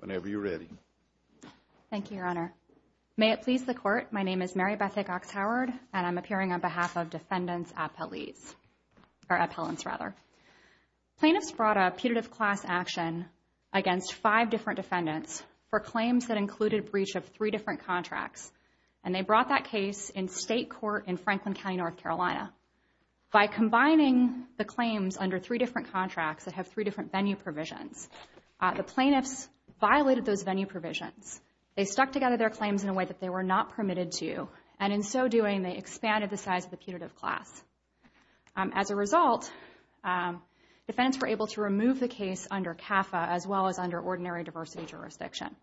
Whenever you're ready. Thank you, Your Honor. May it please the court, my name is Mary Bethick-Oxhoward, and I'm appearing on behalf of Defendants Appellees, or Appellants rather. Plaintiffs brought a putative class action against five different defendants for claims that included breach of three different contracts, and they brought that case in state court in Franklin County, North Carolina. By combining the claims under three different contracts that have three different venue provisions, the plaintiffs violated those venue provisions. They stuck together their claims in a way that they were not permitted to, and in so doing, they expanded the size of the putative class. As a result, defendants were able to remove the case under CAFA as well as under ordinary diversity jurisdiction.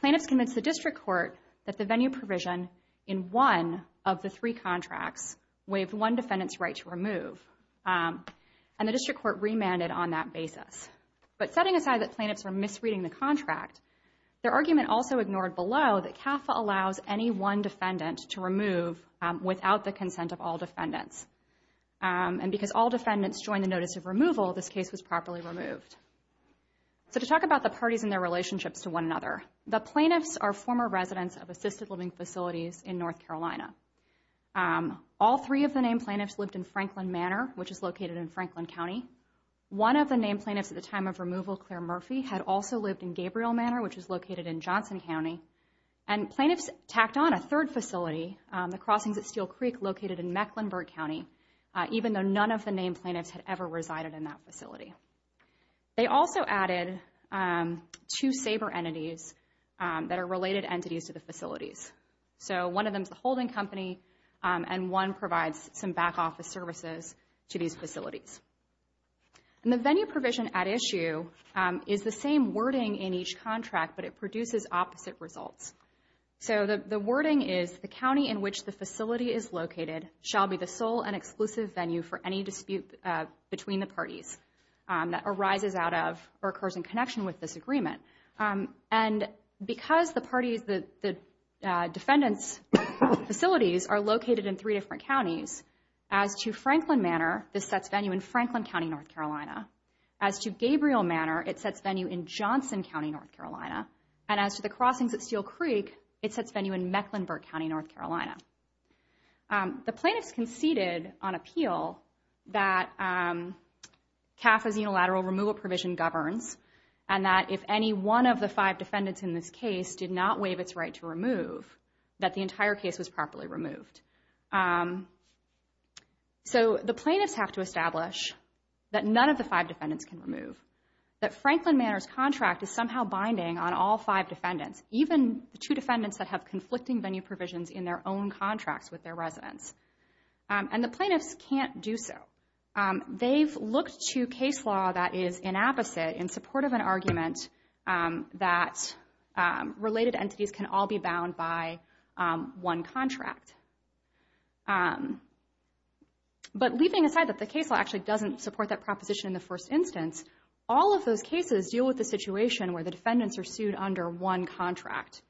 Plaintiffs convinced the district court that the venue provision in one of the three contracts waived one defendant's right to remove, and the district court remanded on that basis. But setting aside that plaintiffs were misreading the contract, their argument also ignored below that CAFA allows any one defendant to remove without the consent of all defendants. And because all defendants joined the notice of removal, this case was properly removed. So to talk about the parties and their relationships to one another, the plaintiffs are former residents of assisted living facilities in North Carolina. All three of the named plaintiffs lived in Franklin Manor, which is located in Franklin County. One of the named plaintiffs at the time of removal, Claire Murphy, had also lived in Gabriel Manor, which is located in Johnson County. And plaintiffs tacked on a third facility, the crossings at Steel Creek, located in Mecklenburg County, even though none of the named plaintiffs had ever resided in that facility. They also added two SABRE entities that are related entities to the facilities. So one of them is the holding company, and one provides some back office services to these facilities. And the venue provision at issue is the same wording in each contract, but it produces opposite results. So the wording is, the county in which the facility is located shall be the sole and exclusive venue for any dispute between the parties that arises out of or occurs in connection with this agreement. And because the parties, the defendants' facilities are located in three different counties, as to Franklin Manor, this sets venue in Franklin County, North Carolina. As to Gabriel Manor, it sets venue in Johnson County, North Carolina. And as to the crossings at Steel Creek, it sets venue in Mecklenburg County, North Carolina. The plaintiffs conceded on appeal that CAF's unilateral removal provision governs, and that if any one of the five defendants in this case did not waive its right to remove, that the entire case was properly removed. So the plaintiffs have to establish that none of the five defendants can remove. That Franklin Manor's contract is somehow binding on all five defendants, even the two defendants that have conflicting venue provisions in their own contracts with their residents. And the plaintiffs can't do so. They've looked to case law that is inapposite in support of an argument that related entities can all be bound by one contract. But leaving aside that the case law actually doesn't support that proposition in the first instance, all of those cases deal with the situation where the defendants are sued under one contract.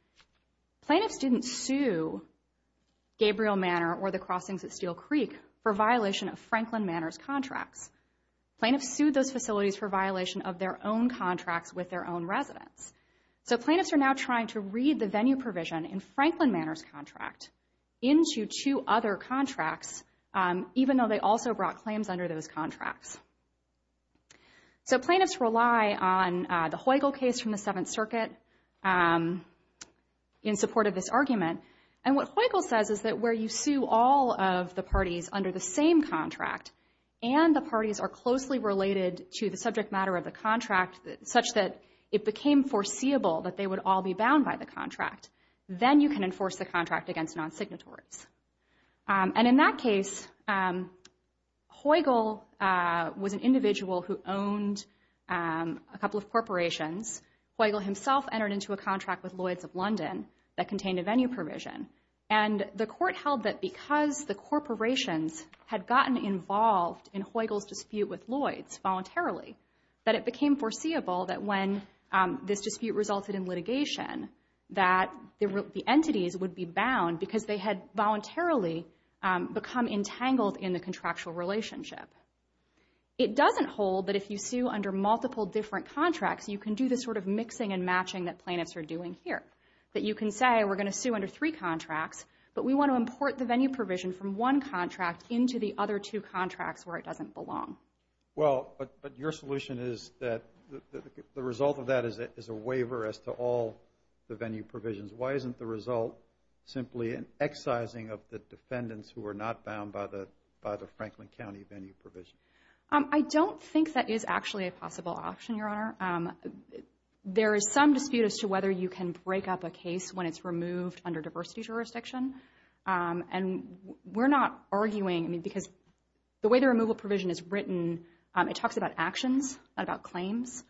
Plaintiffs didn't sue Gabriel Manor or the crossings at Steel Creek for violation of Franklin Manor's contracts. Plaintiffs sued those facilities for violation of their own contracts with their own residents. So plaintiffs are now trying to read the venue provision in Franklin Manor's contract into two other contracts, even though they also brought claims under those contracts. So plaintiffs rely on the Heugel case from the Seventh Circuit in support of this argument. And what Heugel says is that where you sue all of the parties under the same contract and the parties are closely related to the subject matter of the contract such that it became foreseeable that they would all be bound by the contract, then you can enforce the contract against non-signatories. And in that case, Heugel was an individual who owned a couple of corporations. Heugel himself entered into a contract with Lloyds of London that contained a venue provision. And the court held that because the corporations had gotten involved in Heugel's dispute with Lloyds voluntarily, that it became foreseeable that when this dispute resulted in litigation, that the entities would be bound because they had voluntarily become entangled in the contractual relationship. It doesn't hold that if you sue under multiple different contracts, you can do this sort of mixing and matching that plaintiffs are doing here. That you can say, we're going to sue under three contracts, but we want to import the venue provision from one contract into the other two contracts where it doesn't belong. Well, but your solution is that the result of that is a waiver as to all the venue provisions. Why isn't the result simply an excising of the defendants who are not bound by the Franklin County venue provision? I don't think that is actually a possible option, Your Honor. There is some dispute as to whether you can break up a case when it's removed under diversity jurisdiction. And we're not arguing, I mean, because the way the removal provision is written, it talks about actions, not about claims.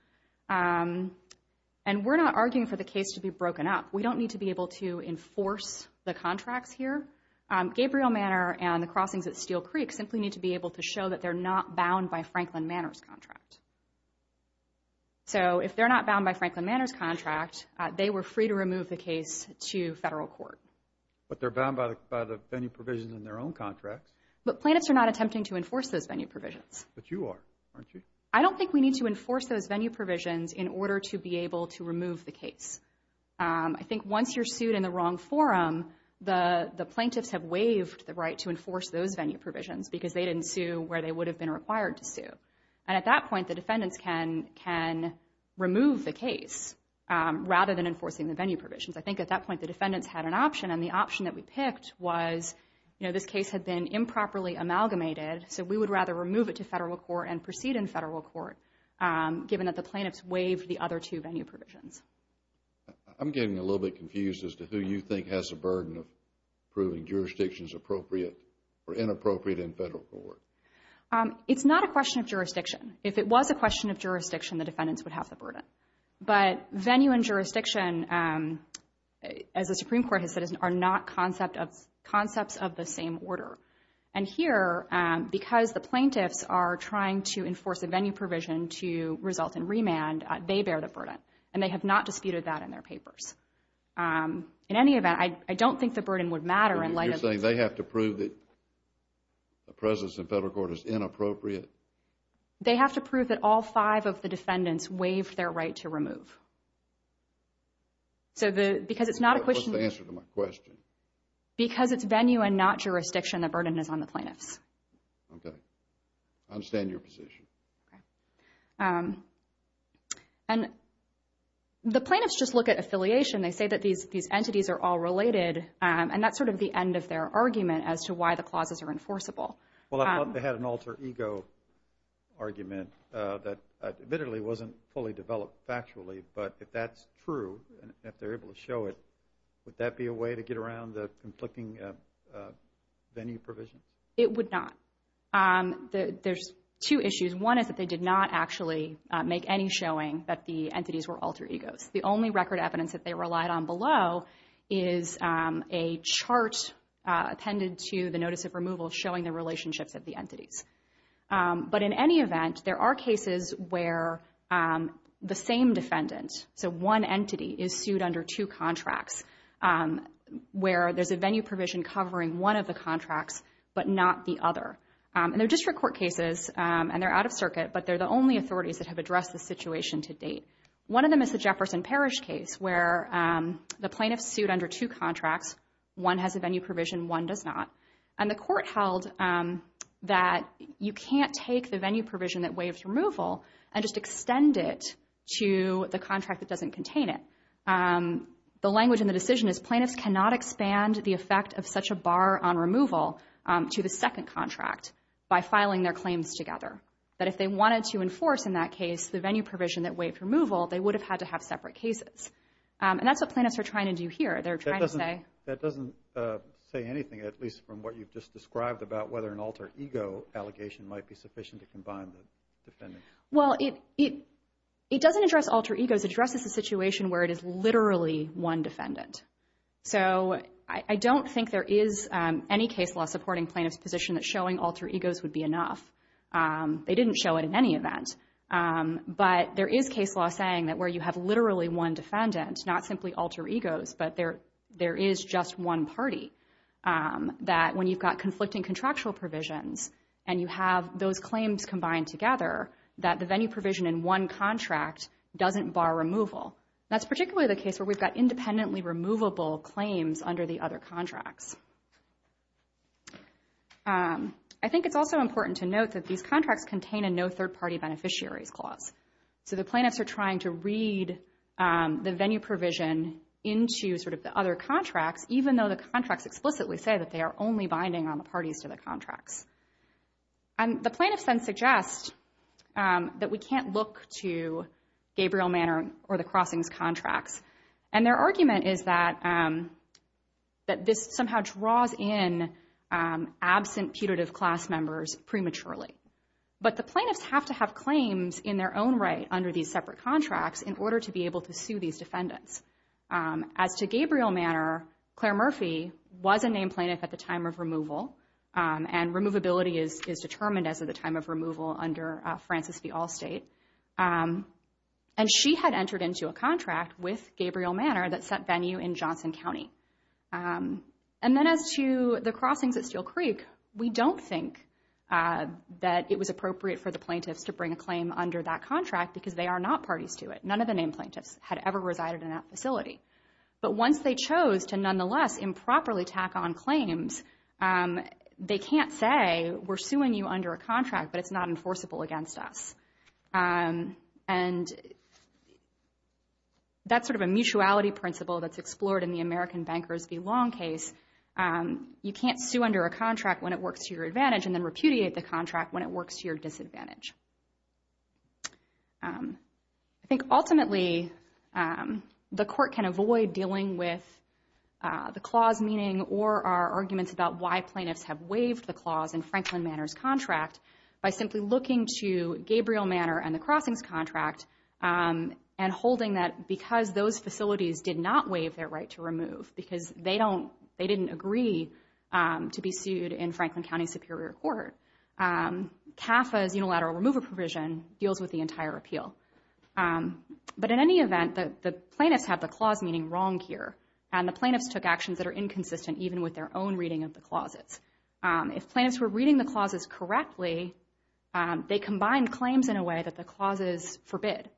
And we're not arguing for the case to be broken up. We don't need to be able to enforce the contracts here. Gabriel Manor and the crossings at Steel Creek simply need to be able to show that they're not bound by Franklin Manor's contract. So if they're not bound by Franklin Manor's contract, they were free to remove the case to federal court. But they're bound by the venue provisions in their own contracts. But plaintiffs are not attempting to enforce those venue provisions. But you are, aren't you? I don't think we need to enforce those venue provisions in order to be able to remove the case. I think once you're sued in the wrong forum, the plaintiffs have waived the right to enforce those venue provisions because they didn't sue where they would have been required to sue. And at that point, the defendants can remove the case rather than enforcing the venue provisions. I think at that point the defendants had an option. And the option that we picked was, you know, this case had been improperly amalgamated. So we would rather remove it to federal court and proceed in federal court given that the plaintiffs waived the other two venue provisions. I'm getting a little bit confused as to who you think has a burden of proving jurisdictions appropriate or inappropriate in federal court. It's not a question of jurisdiction. If it was a question of jurisdiction, the defendants would have the burden. But venue and jurisdiction, as the Supreme Court has said, are not concepts of the same order. And here, because the plaintiffs are trying to enforce a venue provision to result in remand, they bear the burden. And they have not disputed that in their papers. In any event, I don't think the burden would matter in light of this. You're saying they have to prove that the presence in federal court is inappropriate? They have to prove that all five of the defendants waived their right to remove. So because it's not a question. What's the answer to my question? Because it's venue and not jurisdiction, the burden is on the plaintiffs. Okay. I understand your position. And the plaintiffs just look at affiliation. They say that these entities are all related. And that's sort of the end of their argument as to why the clauses are enforceable. Well, I thought they had an alter ego argument that admittedly wasn't fully developed factually. But if that's true, if they're able to show it, would that be a way to get around the conflicting venue provision? It would not. There's two issues. One is that they did not actually make any showing that the entities were alter egos. The only record evidence that they relied on below is a chart appended to the notice of removal showing the relationships of the entities. But in any event, there are cases where the same defendant, so one entity, is sued under two contracts, where there's a venue provision covering one of the contracts but not the other. And they're district court cases, and they're out of circuit, but they're the only authorities that have addressed the situation to date. One of them is the Jefferson Parish case where the plaintiffs sued under two contracts. One has a venue provision, one does not. And the court held that you can't take the venue provision that waives removal and just extend it to the contract that doesn't contain it. The language in the decision is plaintiffs cannot expand the effect of such a bar on removal to the second contract by filing their claims together. But if they wanted to enforce, in that case, the venue provision that waived removal, they would have had to have separate cases. And that's what plaintiffs are trying to do here. They're trying to say— That doesn't say anything, at least from what you've just described, about whether an alter ego allegation might be sufficient to combine the defendants. Well, it doesn't address alter egos. It addresses the situation where it is literally one defendant. So I don't think there is any case law supporting plaintiffs' position that showing alter egos would be enough. They didn't show it in any event. But there is case law saying that where you have literally one defendant, not simply alter egos, but there is just one party, that when you've got conflicting contractual provisions and you have those claims combined together, that the venue provision in one contract doesn't bar removal. That's particularly the case where we've got independently removable claims under the other contracts. I think it's also important to note that these contracts contain a no third-party beneficiaries clause. So the plaintiffs are trying to read the venue provision into sort of the other contracts, even though the contracts explicitly say that they are only binding on the parties to the contracts. And the plaintiffs then suggest that we can't look to Gabriel Manor or the crossings contracts. And their argument is that this somehow draws in absent putative class members prematurely. But the plaintiffs have to have claims in their own right under these separate contracts in order to be able to sue these defendants. As to Gabriel Manor, Claire Murphy was a named plaintiff at the time of removal, and removability is determined as of the time of removal under Francis v. Allstate. And she had entered into a contract with Gabriel Manor that set venue in Johnson County. And then as to the crossings at Steel Creek, we don't think that it was appropriate for the plaintiffs to bring a claim under that contract because they are not parties to it. None of the named plaintiffs had ever resided in that facility. But once they chose to nonetheless improperly tack on claims, they can't say we're suing you under a contract, but it's not enforceable against us. And that's sort of a mutuality principle that's explored in the American Bankers v. Long case. You can't sue under a contract when it works to your advantage and then repudiate the contract when it works to your disadvantage. I think ultimately the court can avoid dealing with the clause meaning or our arguments about why plaintiffs have waived the clause in Franklin Manor's contract by simply looking to Gabriel Manor and the crossings contract and holding that because those facilities did not waive their right to remove because they didn't agree to be sued in Franklin County Superior Court. CAFA's unilateral remover provision deals with the entire appeal. But in any event, the plaintiffs have the clause meaning wrong here. And the plaintiffs took actions that are inconsistent even with their own reading of the clauses. If plaintiffs were reading the clauses correctly, they combined claims in a way that the clauses forbid.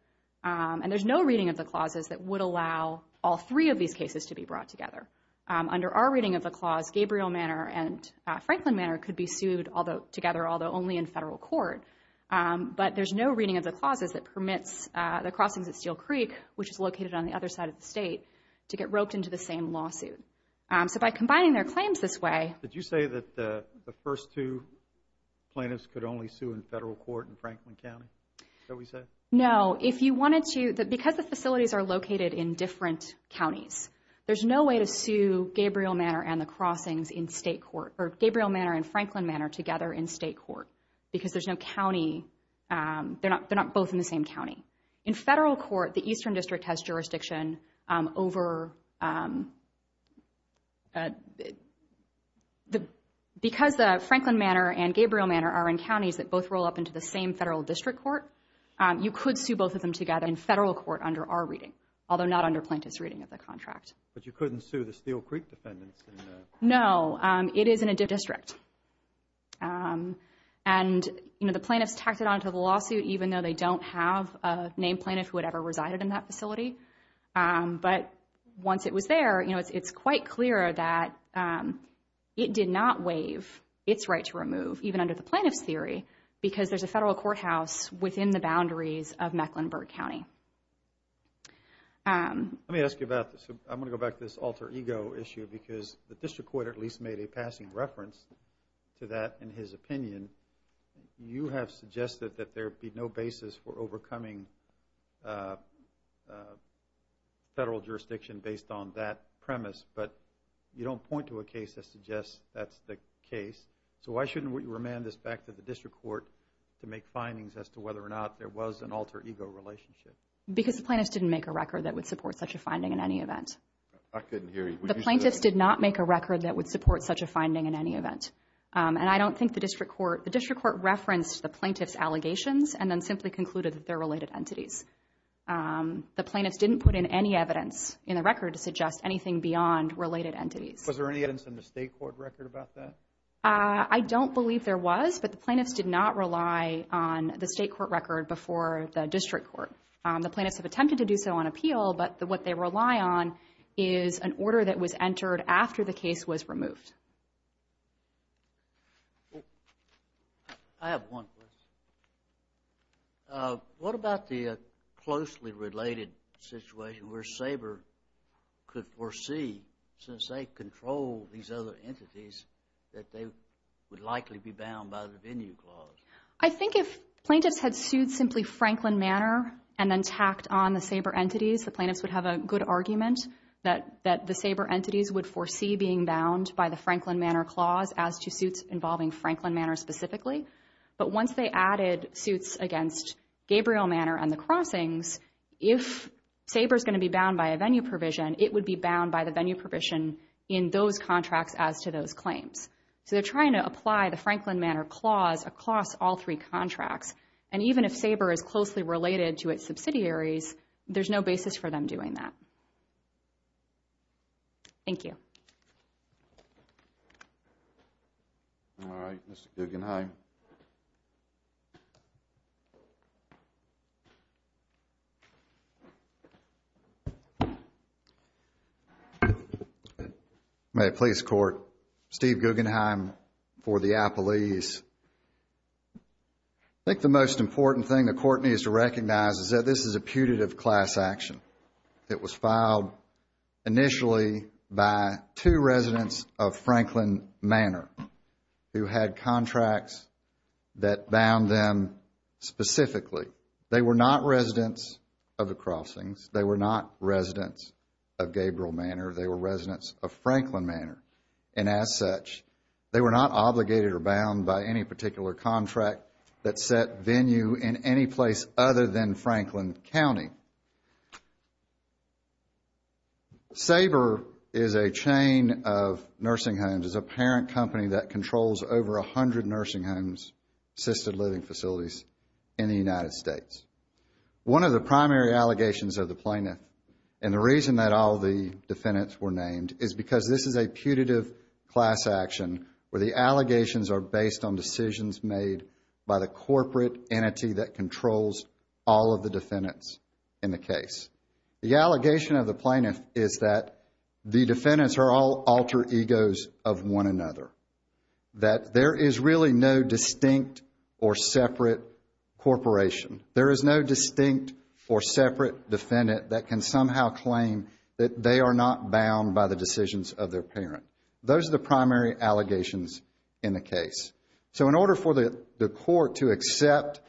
And there's no reading of the clauses that would allow all three of these cases to be brought together. Under our reading of the clause, Gabriel Manor and Franklin Manor could be sued together although only in federal court. But there's no reading of the clauses that permits the crossings at Steel Creek, which is located on the other side of the state, to get roped into the same lawsuit. So by combining their claims this way... Did you say that the first two plaintiffs could only sue in federal court in Franklin County? No. If you wanted to... Because the facilities are located in different counties, there's no way to sue Gabriel Manor and the crossings in state court or Gabriel Manor and Franklin Manor together in state court because there's no county... They're not both in the same county. In federal court, the Eastern District has jurisdiction over... Because Franklin Manor and Gabriel Manor are in counties that both roll up into the same federal district court, you could sue both of them together in federal court under our reading, although not under plaintiff's reading of the contract. But you couldn't sue the Steel Creek defendants? No. It is in a district. And the plaintiffs tacked it onto the lawsuit even though they don't have a named plaintiff who had ever resided in that facility. But once it was there, it's quite clear that it did not waive its right to remove, even under the plaintiff's theory, because there's a federal courthouse within the boundaries of Mecklenburg County. Let me ask you about this. I'm going to go back to this alter ego issue because the district court at least made a passing reference to that in his opinion. You have suggested that there be no basis for overcoming federal jurisdiction based on that premise, but you don't point to a case that suggests that's the case. So why shouldn't we remand this back to the district court to make findings as to whether or not there was an alter ego relationship? Because the plaintiffs didn't make a record that would support such a finding in any event. I couldn't hear you. The plaintiffs did not make a record that would support such a finding in any event. And I don't think the district court, the district court referenced the plaintiff's allegations and then simply concluded that they're related entities. The plaintiffs didn't put in any evidence in the record to suggest anything beyond related entities. Was there any evidence in the state court record about that? I don't believe there was, but the plaintiffs did not rely on the state court record before the district court. The plaintiffs have attempted to do so on appeal, but what they rely on is an order that was entered after the case was removed. I have one question. What about the closely related situation where SABR could foresee, since they control these other entities, that they would likely be bound by the venue clause? I think if plaintiffs had sued simply Franklin Manor and then tacked on the SABR entities, the plaintiffs would have a good argument that the SABR entities would foresee being bound by the Franklin Manor clause as to suits involving Franklin Manor specifically. But once they added suits against Gabriel Manor and the crossings, if SABR is going to be bound by a venue provision, it would be bound by the venue provision in those contracts as to those claims. So they're trying to apply the Franklin Manor clause across all three contracts. And even if SABR is closely related to its subsidiaries, there's no basis for them doing that. Thank you. All right. Mr. Guggenheim. Mr. Guggenheim. May it please the Court. Steve Guggenheim for the Apple East. I think the most important thing the Court needs to recognize is that this is a putative class action. It was filed initially by two residents of Franklin Manor who had contracts that bound them specifically. They were not residents of the crossings. They were not residents of Gabriel Manor. They were residents of Franklin Manor. And as such, they were not obligated or bound by any particular contract that set venue in any place other than Franklin County. SABR is a chain of nursing homes. It's a parent company that controls over 100 nursing homes, assisted living facilities in the United States. One of the primary allegations of the plaintiff and the reason that all the defendants were named is because this is a putative class action where the allegations are based on decisions made by the corporate entity that controls all of the defendants in the case. The allegation of the plaintiff is that the defendants are all alter egos of one another. That there is really no distinct or separate corporation. There is no distinct or separate defendant that can somehow claim that they are not bound by the decisions of their parent. Those are the primary allegations in the case. So in order for the Court to accept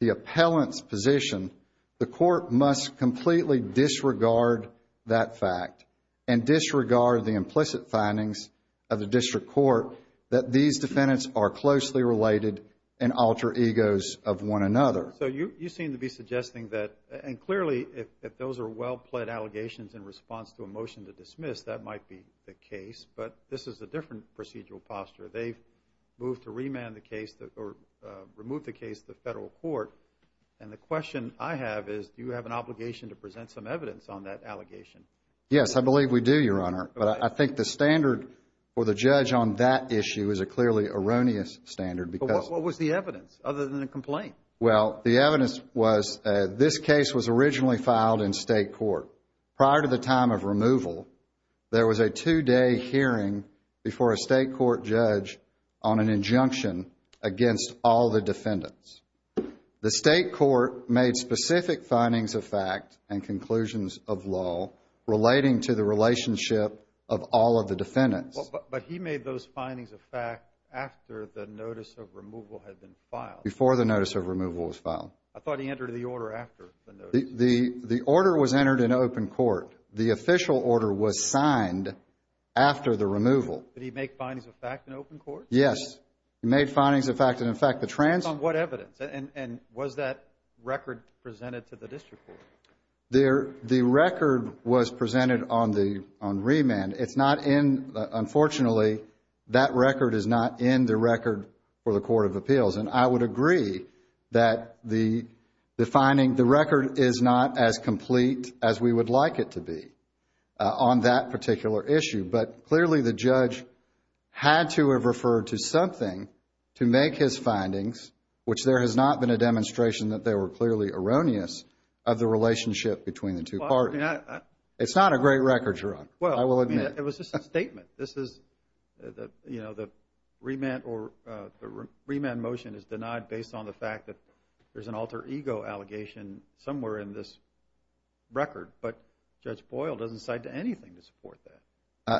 the appellant's position, the Court must completely disregard that fact and disregard the implicit findings of the District Court that these defendants are closely related and alter egos of one another. So you seem to be suggesting that, and clearly if those are well-pled allegations in response to a motion to dismiss, that might be the case, but this is a different procedural posture. They've moved to remand the case, or remove the case to the Federal Court, and the question I have is, do you have an obligation to present some evidence on that allegation? Yes, I believe we do, Your Honor. But I think the standard for the judge on that issue is a clearly erroneous standard. But what was the evidence, other than a complaint? Well, the evidence was, this case was originally filed in State Court. Prior to the time of removal, there was a two-day hearing before a State Court judge on an injunction against all the defendants. The State Court made specific findings of fact and conclusions of law relating to the relationship of all of the defendants. But he made those findings of fact after the notice of removal had been filed. Before the notice of removal was filed. I thought he entered the order after the notice. The order was entered in open court. The official order was signed after the removal. Did he make findings of fact in open court? Yes. He made findings of fact, and in fact the trans... On what evidence? And was that record presented to the district court? The record was presented on remand. It's not in, unfortunately, that record is not in the record for the Court of Appeals. And I would agree that the finding, the record is not as complete as we would like it to be on that particular issue. But clearly the judge had to have referred to something to make his findings, which there has not been a demonstration that they were clearly erroneous, of the relationship between the two parties. It's not a great record, Your Honor. Well, I mean, it was just a statement. This is, you know, the remand motion is denied based on the fact that there's an alter ego allegation somewhere in this record. But Judge Boyle doesn't cite anything to support that.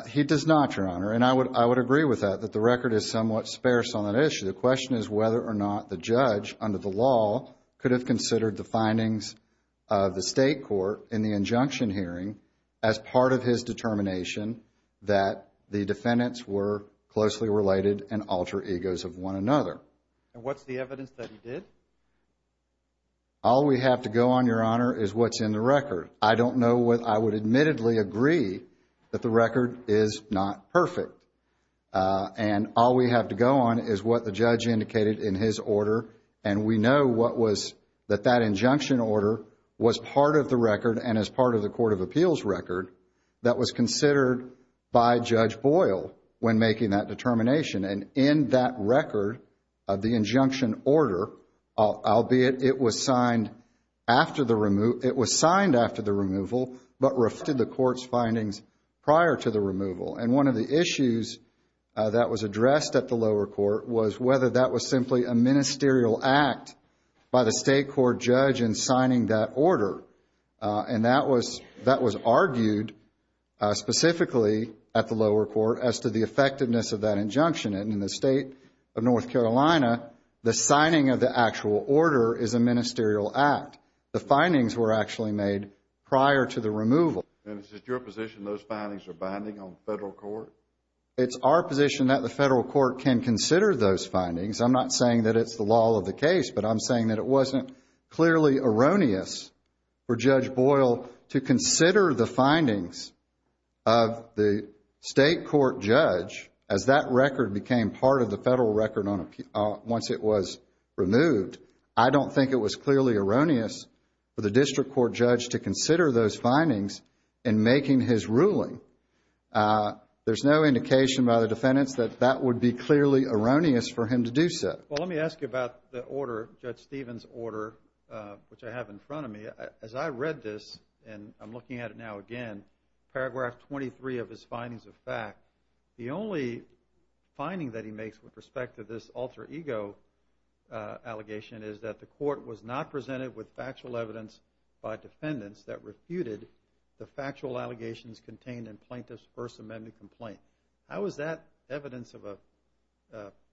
He does not, Your Honor. And I would agree with that, that the record is somewhat sparse on that issue. The question is whether or not the judge, under the law, could have considered the findings of the state court in the injunction hearing as part of his determination that the defendants were closely related and alter egos of one another. And what's the evidence that he did? All we have to go on, Your Honor, is what's in the record. I don't know what I would admittedly agree that the record is not perfect. And all we have to go on is what the judge indicated in his order, and we know what was, that that injunction order was part of the record and as part of the Court of Appeals record that was considered by Judge Boyle when making that determination. And in that record of the injunction order, albeit it was signed after the removal, but refuted the court's findings prior to the removal. And one of the issues that was addressed at the lower court was whether that was simply a ministerial act by the state court judge in signing that order. And that was argued specifically at the lower court as to the effectiveness of that injunction. And in the state of North Carolina, the signing of the actual order is a ministerial act. The findings were actually made prior to the removal. And is it your position those findings are binding on the federal court? It's our position that the federal court can consider those findings. I'm not saying that it's the law of the case, but I'm saying that it wasn't clearly erroneous for Judge Boyle to consider the findings of the state court judge as that record became part of the federal record once it was removed. I don't think it was clearly erroneous for the district court judge to consider those findings in making his ruling. There's no indication by the defendants that that would be clearly erroneous for him to do so. Well, let me ask you about the order, Judge Stevens' order, which I have in front of me. As I read this, and I'm looking at it now again, paragraph 23 of his findings of fact, the only finding that he makes with respect to this alter ego allegation is that the court was not presented with factual evidence by defendants that refuted the factual allegations contained in plaintiff's First Amendment complaint. How is that evidence of a...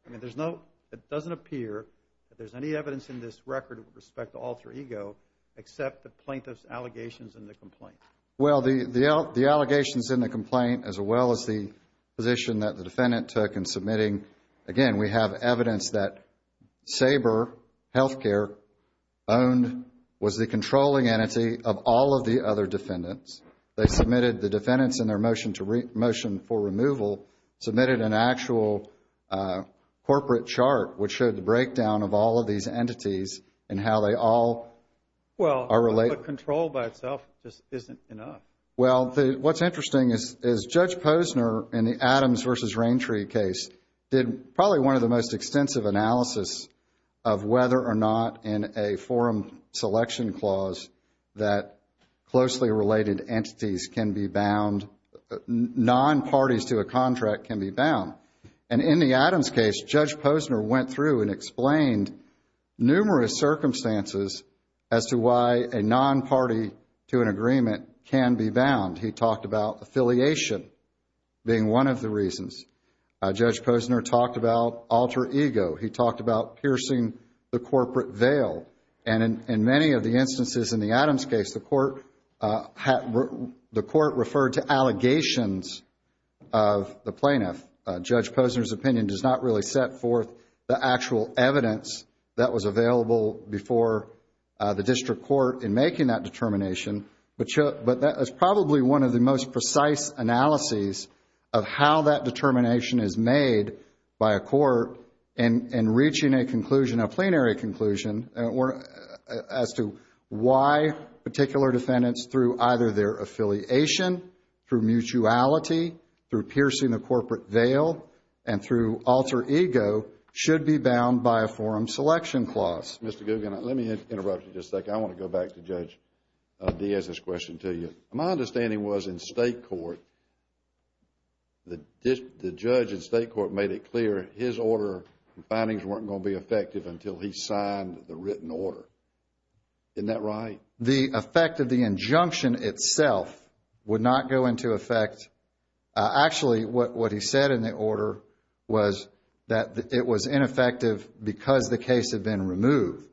I mean, there's no... it doesn't appear that there's any evidence in this record with respect to alter ego except the plaintiff's allegations in the complaint. Well, the allegations in the complaint, as well as the position that the defendant took in submitting, again, we have evidence that Saber Healthcare owned, was the controlling entity of all of the other defendants. They submitted the defendants in their motion for removal, submitted an actual corporate chart which showed the breakdown of all of these entities and how they all are related. Well, the control by itself just isn't enough. Well, what's interesting is Judge Posner in the Adams v. Raintree case did probably one of the most extensive analysis of whether or not in a forum selection clause that closely related entities can be bound, non-parties to a contract can be bound. And in the Adams case, Judge Posner went through and explained numerous circumstances as to why a non-party to an agreement can be bound. He talked about affiliation being one of the reasons. Judge Posner talked about alter ego. He talked about piercing the corporate veil. And in many of the instances in the Adams case, the court referred to allegations of the plaintiff. Judge Posner's opinion does not really set forth the actual evidence that was available before the district court in making that determination, but that is probably one of the most precise analyses of how that determination is made by a court in reaching a conclusion, a plenary conclusion, as to why particular defendants through either their affiliation, through mutuality, through piercing the corporate veil, and through alter ego should be bound by a forum selection clause. Mr. Gugin, let me interrupt you just a second. I want to go back to Judge Diaz's question to you. My understanding was in state court, the judge in state court made it clear his order findings weren't going to be effective until he signed the written order. Isn't that right? The effect of the injunction itself would not go into effect. Actually, what he said in the order was that it was ineffective because the case had been removed.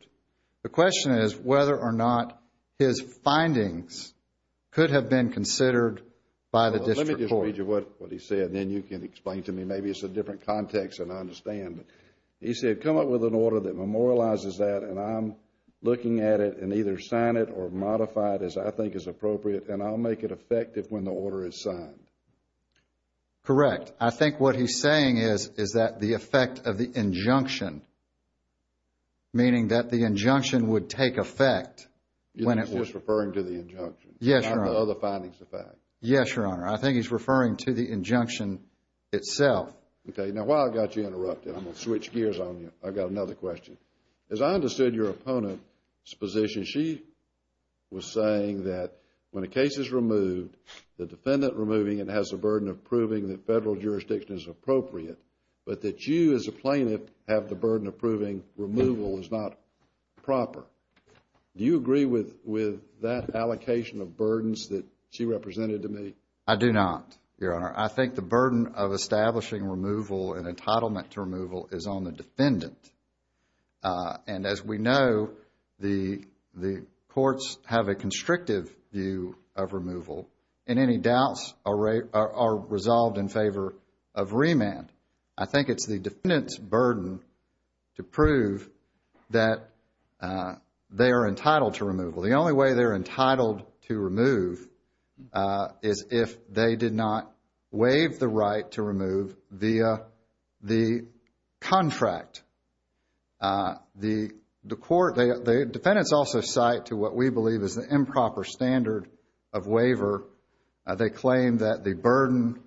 The question is whether or not his findings could have been considered by the district court. Let me just read you what he said, and then you can explain to me. Maybe it's a different context than I understand. He said, come up with an order that memorializes that, and I'm looking at it and either sign it or modify it as I think is appropriate, and I'll make it effective when the order is signed. Correct. I think what he's saying is that the effect of the injunction, meaning that the injunction would take effect when it was referring to the injunction. Yes, Your Honor. Not the other findings of fact. Yes, Your Honor. I think he's referring to the injunction itself. Okay. Now, while I've got you interrupted, I'm going to switch gears on you. I've got another question. As I understood your opponent's position, she was saying that when a case is removed, the defendant removing it has the burden of proving that federal jurisdiction is appropriate, but that you as a plaintiff have the burden of proving removal is not proper. Do you agree with that allocation of burdens that she represented to me? I do not, Your Honor. I think the burden of establishing removal and entitlement to removal is on the defendant. in any doubts are resolved in favor of remand. I think it's the defendant's burden to prove that they are entitled to removal. The only way they're entitled to remove is if they did not waive the right to remove via the contract. The court, the defendants also cite to what we believe is the improper standard of waiver. They claim that the burden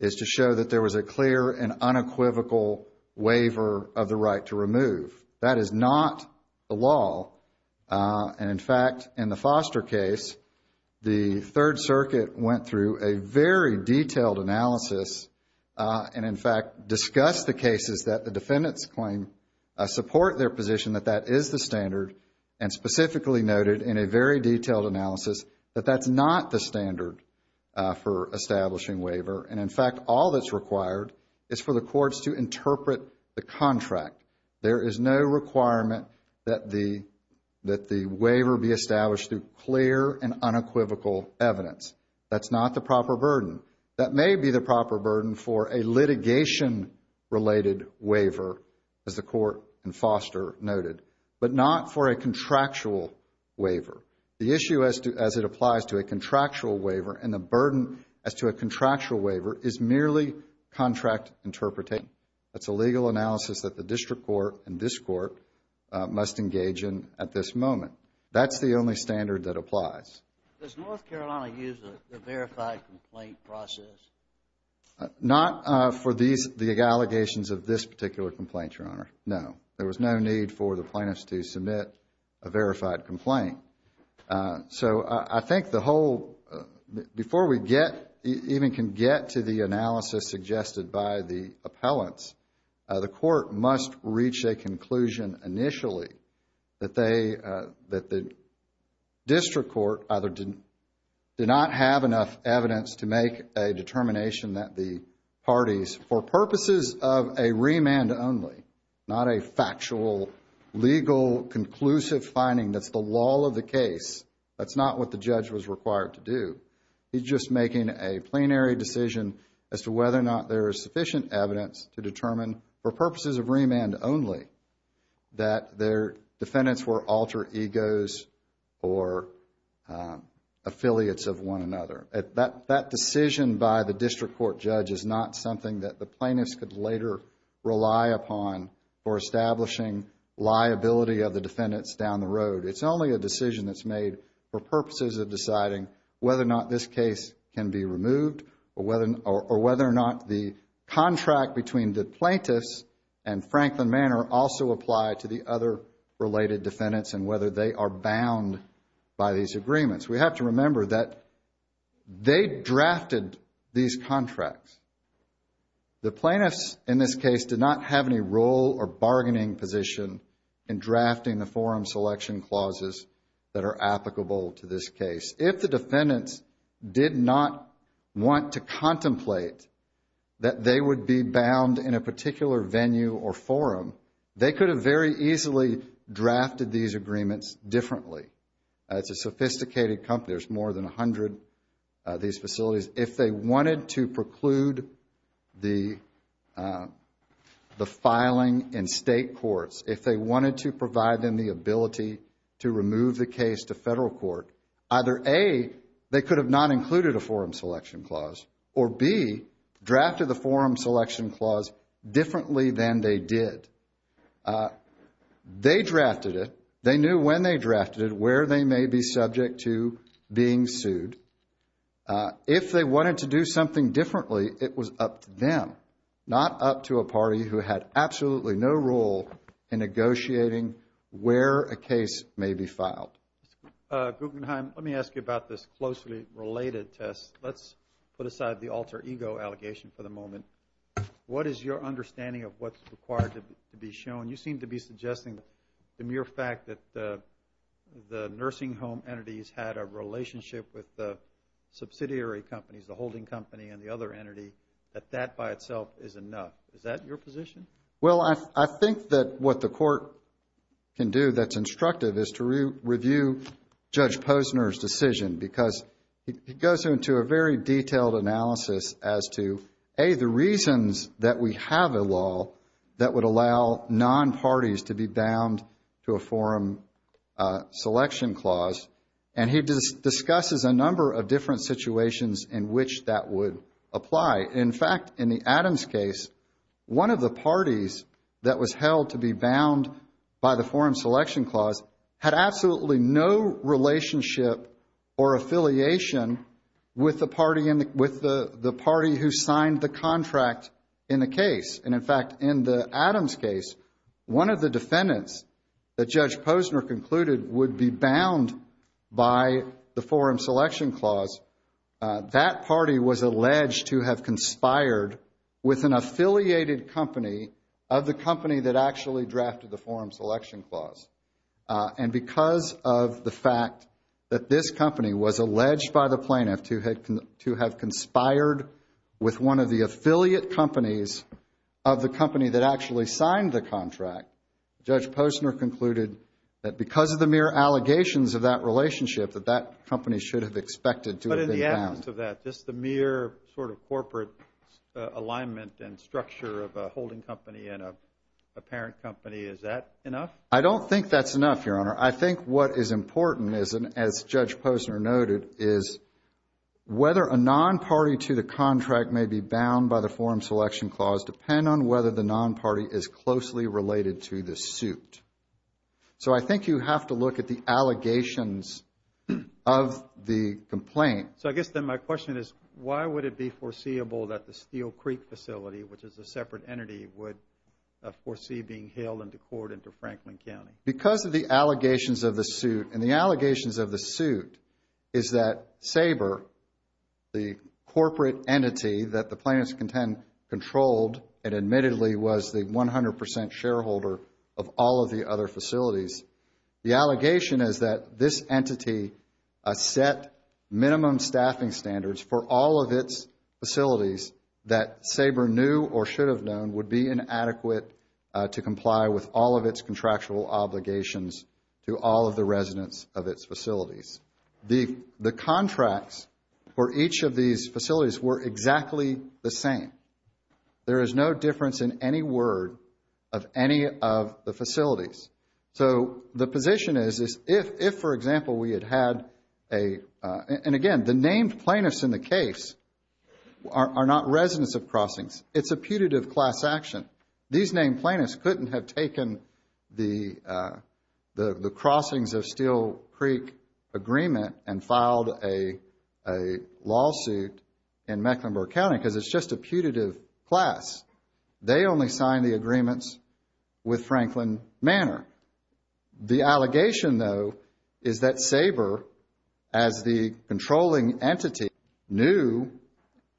is to show that there was a clear and unequivocal waiver of the right to remove. That is not the law. And, in fact, in the Foster case, the Third Circuit went through a very detailed analysis and, in fact, discussed the cases that the defendants claim support their position that that is the standard and specifically noted in a very detailed analysis that that's not the standard for establishing waiver. And, in fact, all that's required is for the courts to interpret the contract. There is no requirement that the waiver be established through clear and unequivocal evidence. That's not the proper burden. That may be the proper burden for a litigation-related waiver, as the court in Foster noted, but not for a contractual waiver. The issue as it applies to a contractual waiver and the burden as to a contractual waiver is merely contract interpretation. That's a legal analysis that the district court and this court must engage in at this moment. That's the only standard that applies. Does North Carolina use the verified complaint process? Not for the allegations of this particular complaint, Your Honor, no. There was no need for the plaintiffs to submit a verified complaint. So I think the whole, before we get, even can get to the analysis suggested by the appellants, the court must reach a conclusion initially that the district court either did not have enough evidence to make a determination that the parties, for purposes of a remand only, not a factual, legal, conclusive finding that's the law of the case. That's not what the judge was required to do. He's just making a plenary decision as to whether or not there is sufficient evidence to determine for purposes of remand only that their defendants were alter egos or affiliates of one another. That decision by the district court judge is not something that the plaintiffs could later rely upon for establishing liability of the defendants down the road. It's only a decision that's made for purposes of deciding whether or not this case can be removed or whether or not the contract between the plaintiffs and Franklin Manor also apply to the other related defendants and whether they are bound by these agreements. We have to remember that they drafted these contracts. The plaintiffs in this case did not have any role or bargaining position in drafting the forum selection clauses that are applicable to this case. If the defendants did not want to contemplate that they would be bound in a particular venue or forum, they could have very easily drafted these agreements differently. It's a sophisticated company. There's more than 100 of these facilities. If they wanted to preclude the filing in state courts, if they wanted to provide them the ability to remove the case to federal court, either A, they could have not included a forum selection clause, or B, drafted the forum selection clause differently than they did. They drafted it. They knew when they drafted it, where they may be subject to being sued. If they wanted to do something differently, it was up to them, not up to a party who had absolutely no role in negotiating where a case may be filed. Mr. Guggenheim, let me ask you about this closely related test. Let's put aside the alter ego allegation for the moment. What is your understanding of what's required to be shown? You seem to be suggesting the mere fact that the nursing home entities had a relationship with the subsidiary companies, the holding company and the other entity, that that by itself is enough. Is that your position? Well, I think that what the court can do that's instructive is to review Judge Posner's decision because it goes into a very detailed analysis as to, A, the reasons that we have a law that would allow non-parties to be bound to a forum selection clause. And he discusses a number of different situations in which that would apply. In fact, in the Adams case, one of the parties that was held to be bound by the forum selection clause had absolutely no relationship or affiliation with the party who signed the contract in the case. And in fact, in the Adams case, one of the defendants that Judge Posner concluded would be bound by the forum selection clause, that party was alleged to have conspired with an affiliated company of the company that actually drafted the forum selection clause. And because of the fact that this company was alleged by the plaintiff to have conspired with one of the affiliate companies of the company that actually signed the contract, Judge Posner concluded that because of the mere allegations of that relationship, that that company should have expected to have been bound. But in the absence of that, just the mere sort of corporate alignment and structure of a holding company and a parent company, is that enough? I don't think that's enough, Your Honor. I think what is important, as Judge Posner noted, is whether a non-party to the contract may be bound by the forum selection clause depend on whether the non-party is closely related to the suit. So I think you have to look at the allegations of the complaint. So I guess then my question is, why would it be foreseeable that the Steel Creek facility, which is a separate entity, would foresee being hailed into court into Franklin County? Because of the allegations of the suit, and the allegations of the suit is that SABRE, the corporate entity that the plaintiffs controlled and admittedly was the 100% shareholder of all of the other facilities, the allegation is that this entity set minimum staffing standards for all of its facilities that SABRE knew or should have known would be inadequate to comply with all of its contractual obligations to all of the residents of its facilities. The contracts for each of these facilities were exactly the same. There is no difference in any word of any of the facilities. So the position is, if, for example, we had had a, and again, the named plaintiffs in the case are not residents of crossings. It's a putative class action. These named plaintiffs couldn't have taken the crossings of Steel Creek agreement and filed a lawsuit in Mecklenburg County because it's just a putative class. They only signed the agreements with Franklin Manor. The allegation, though, is that SABRE, as the controlling entity, knew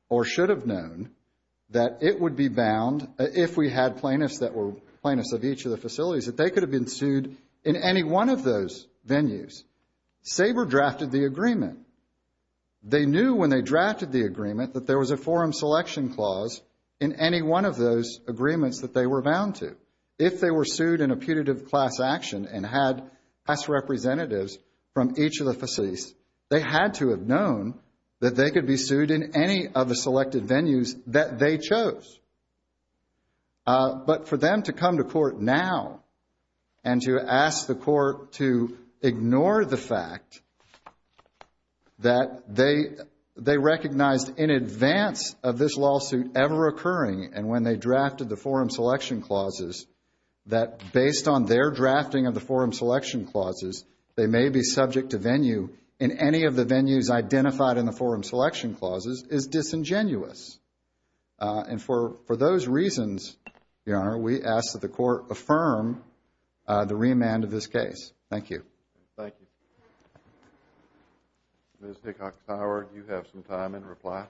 or should have known that it would be bound, if we had plaintiffs that were plaintiffs of each of the facilities, that they could have been sued in any one of those venues. SABRE drafted the agreement. They knew when they drafted the agreement that there was a forum selection clause in any one of those agreements that they were bound to. If they were sued in a putative class action and had class representatives from each of the facilities, they had to have known that they could be sued in any of the selected venues that they chose. But for them to come to court now and to ask the court to ignore the fact that they recognized in advance of this lawsuit ever occurring and when they drafted the forum selection clauses, that based on their drafting of the forum selection clauses, they may be subject to venue in any of the venues identified in the forum selection clauses is disingenuous. And for those reasons, Your Honor, we ask that the court affirm the remand of this case. Thank you. Thank you. Ms. Hickox-Howard, you have some time in reply.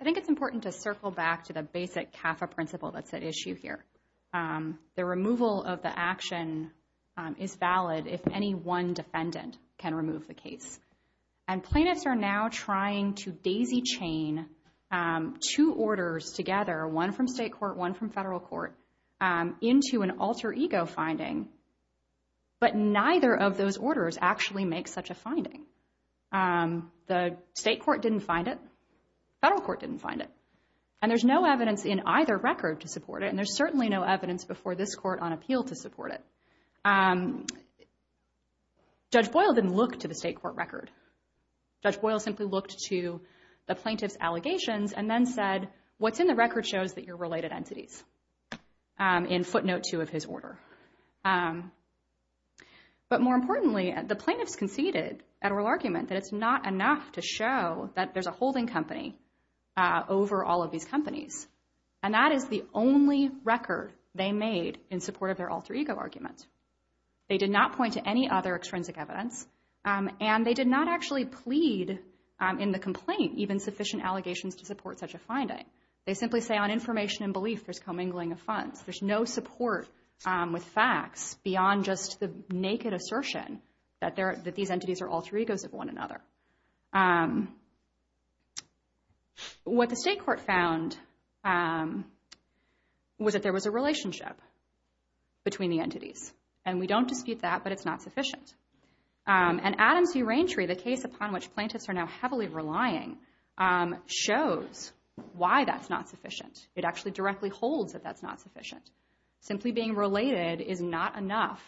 I think it's important to circle back to the basic CAFA principle that's at issue here. The removal of the action is valid if any one defendant can remove the case. And plaintiffs are now trying to daisy chain two orders together, one from state court, one from federal court, into an alter ego finding. But neither of those orders actually make such a finding. The state court didn't find it. Federal court didn't find it. And there's no evidence in either record to support it, and there's certainly no evidence before this court on appeal to support it. Judge Boyle didn't look to the state court record. Judge Boyle simply looked to the plaintiff's allegations and then said, what's in the record shows that you're related entities, in footnote two of his order. But more importantly, the plaintiffs conceded at oral argument that it's not enough to show that there's a holding company over all of these companies. And that is the only record they made in support of their alter ego argument. They did not point to any other extrinsic evidence, and they did not actually plead in the complaint even sufficient allegations to support such a finding. They simply say on information and belief there's commingling of funds. There's no support with facts beyond just the naked assertion that these entities are alter egos of one another. What the state court found was that there was a relationship between the entities, and we don't dispute that, but it's not sufficient. And Adams v. Raintree, the case upon which plaintiffs are now heavily relying, shows why that's not sufficient. It actually directly holds that that's not sufficient. Simply being related is not enough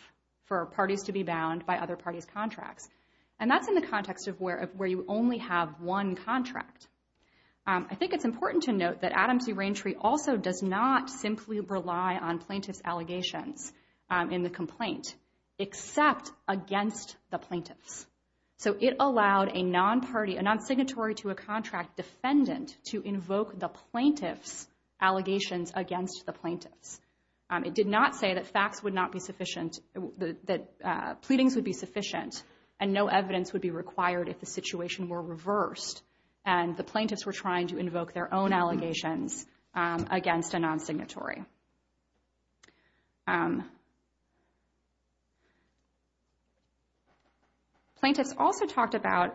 for parties to be bound by other parties' contracts. And that's in the context of where you only have one contract. I think it's important to note that Adams v. Raintree also does not simply rely on plaintiffs' allegations in the complaint except against the plaintiffs. So it allowed a nonsignatory to a contract defendant to invoke the plaintiff's allegations against the plaintiffs. It did not say that facts would not be sufficient, that pleadings would be sufficient, and no evidence would be required if the situation were reversed and the plaintiffs were trying to invoke their own allegations against a nonsignatory. Plaintiffs also talked about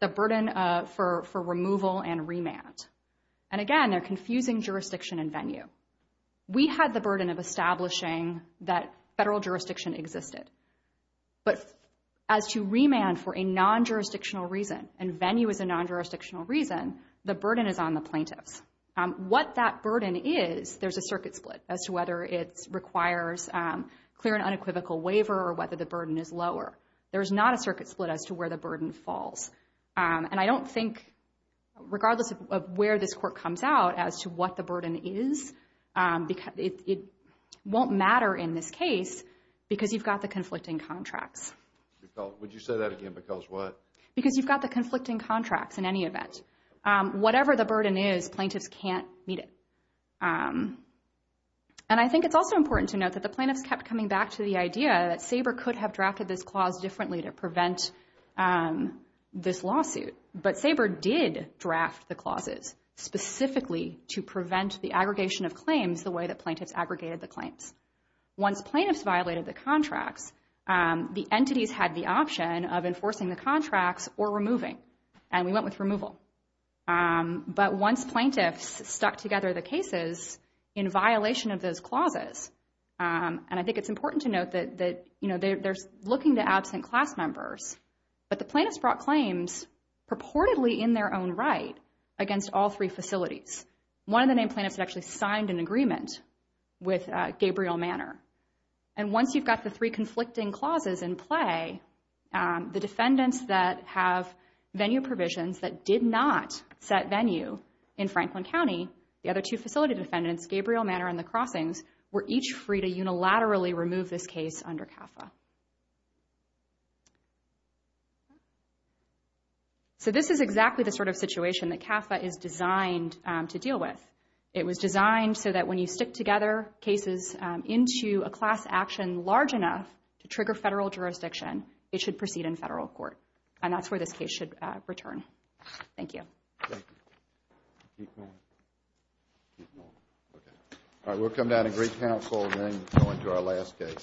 the burden for removal and remand. And again, they're confusing jurisdiction and venue. We had the burden of establishing that federal jurisdiction existed. But as to remand for a non-jurisdictional reason, and venue is a non-jurisdictional reason, the burden is on the plaintiffs. What that burden is, there's a circuit split as to whether it requires clear and unequivocal waiver or whether the burden is lower. There's not a circuit split as to where the burden falls. And I don't think, regardless of where this court comes out as to what the burden is, it won't matter in this case because you've got the conflicting contracts. Would you say that again, because what? Because you've got the conflicting contracts in any event. Whatever the burden is, plaintiffs can't meet it. And I think it's also important to note that the plaintiffs kept coming back to the idea that Sabre could have drafted this clause differently to prevent this lawsuit. But Sabre did draft the clauses specifically to prevent the aggregation of claims the way that plaintiffs aggregated the claims. Once plaintiffs violated the contracts, the entities had the option of enforcing the contracts or removing, and we went with removal. But once plaintiffs stuck together the cases in violation of those clauses, and I think it's important to note that they're looking to absent class members, but the plaintiffs brought claims purportedly in their own right against all three facilities. One of the named plaintiffs had actually signed an agreement with Gabriel Manor. And once you've got the three conflicting clauses in play, the defendants that have venue provisions that did not set venue in Franklin County, the other two facility defendants, Gabriel Manor and the Crossings, were each free to unilaterally remove this case under CAFA. So this is exactly the sort of situation that CAFA is designed to deal with. It was designed so that when you stick together cases into a class action large enough to trigger federal jurisdiction, it should proceed in federal court. And that's where this case should return. Thank you. Thank you. Keep going. Keep going. Okay. All right, we'll come down to Greek Council and then go into our last case.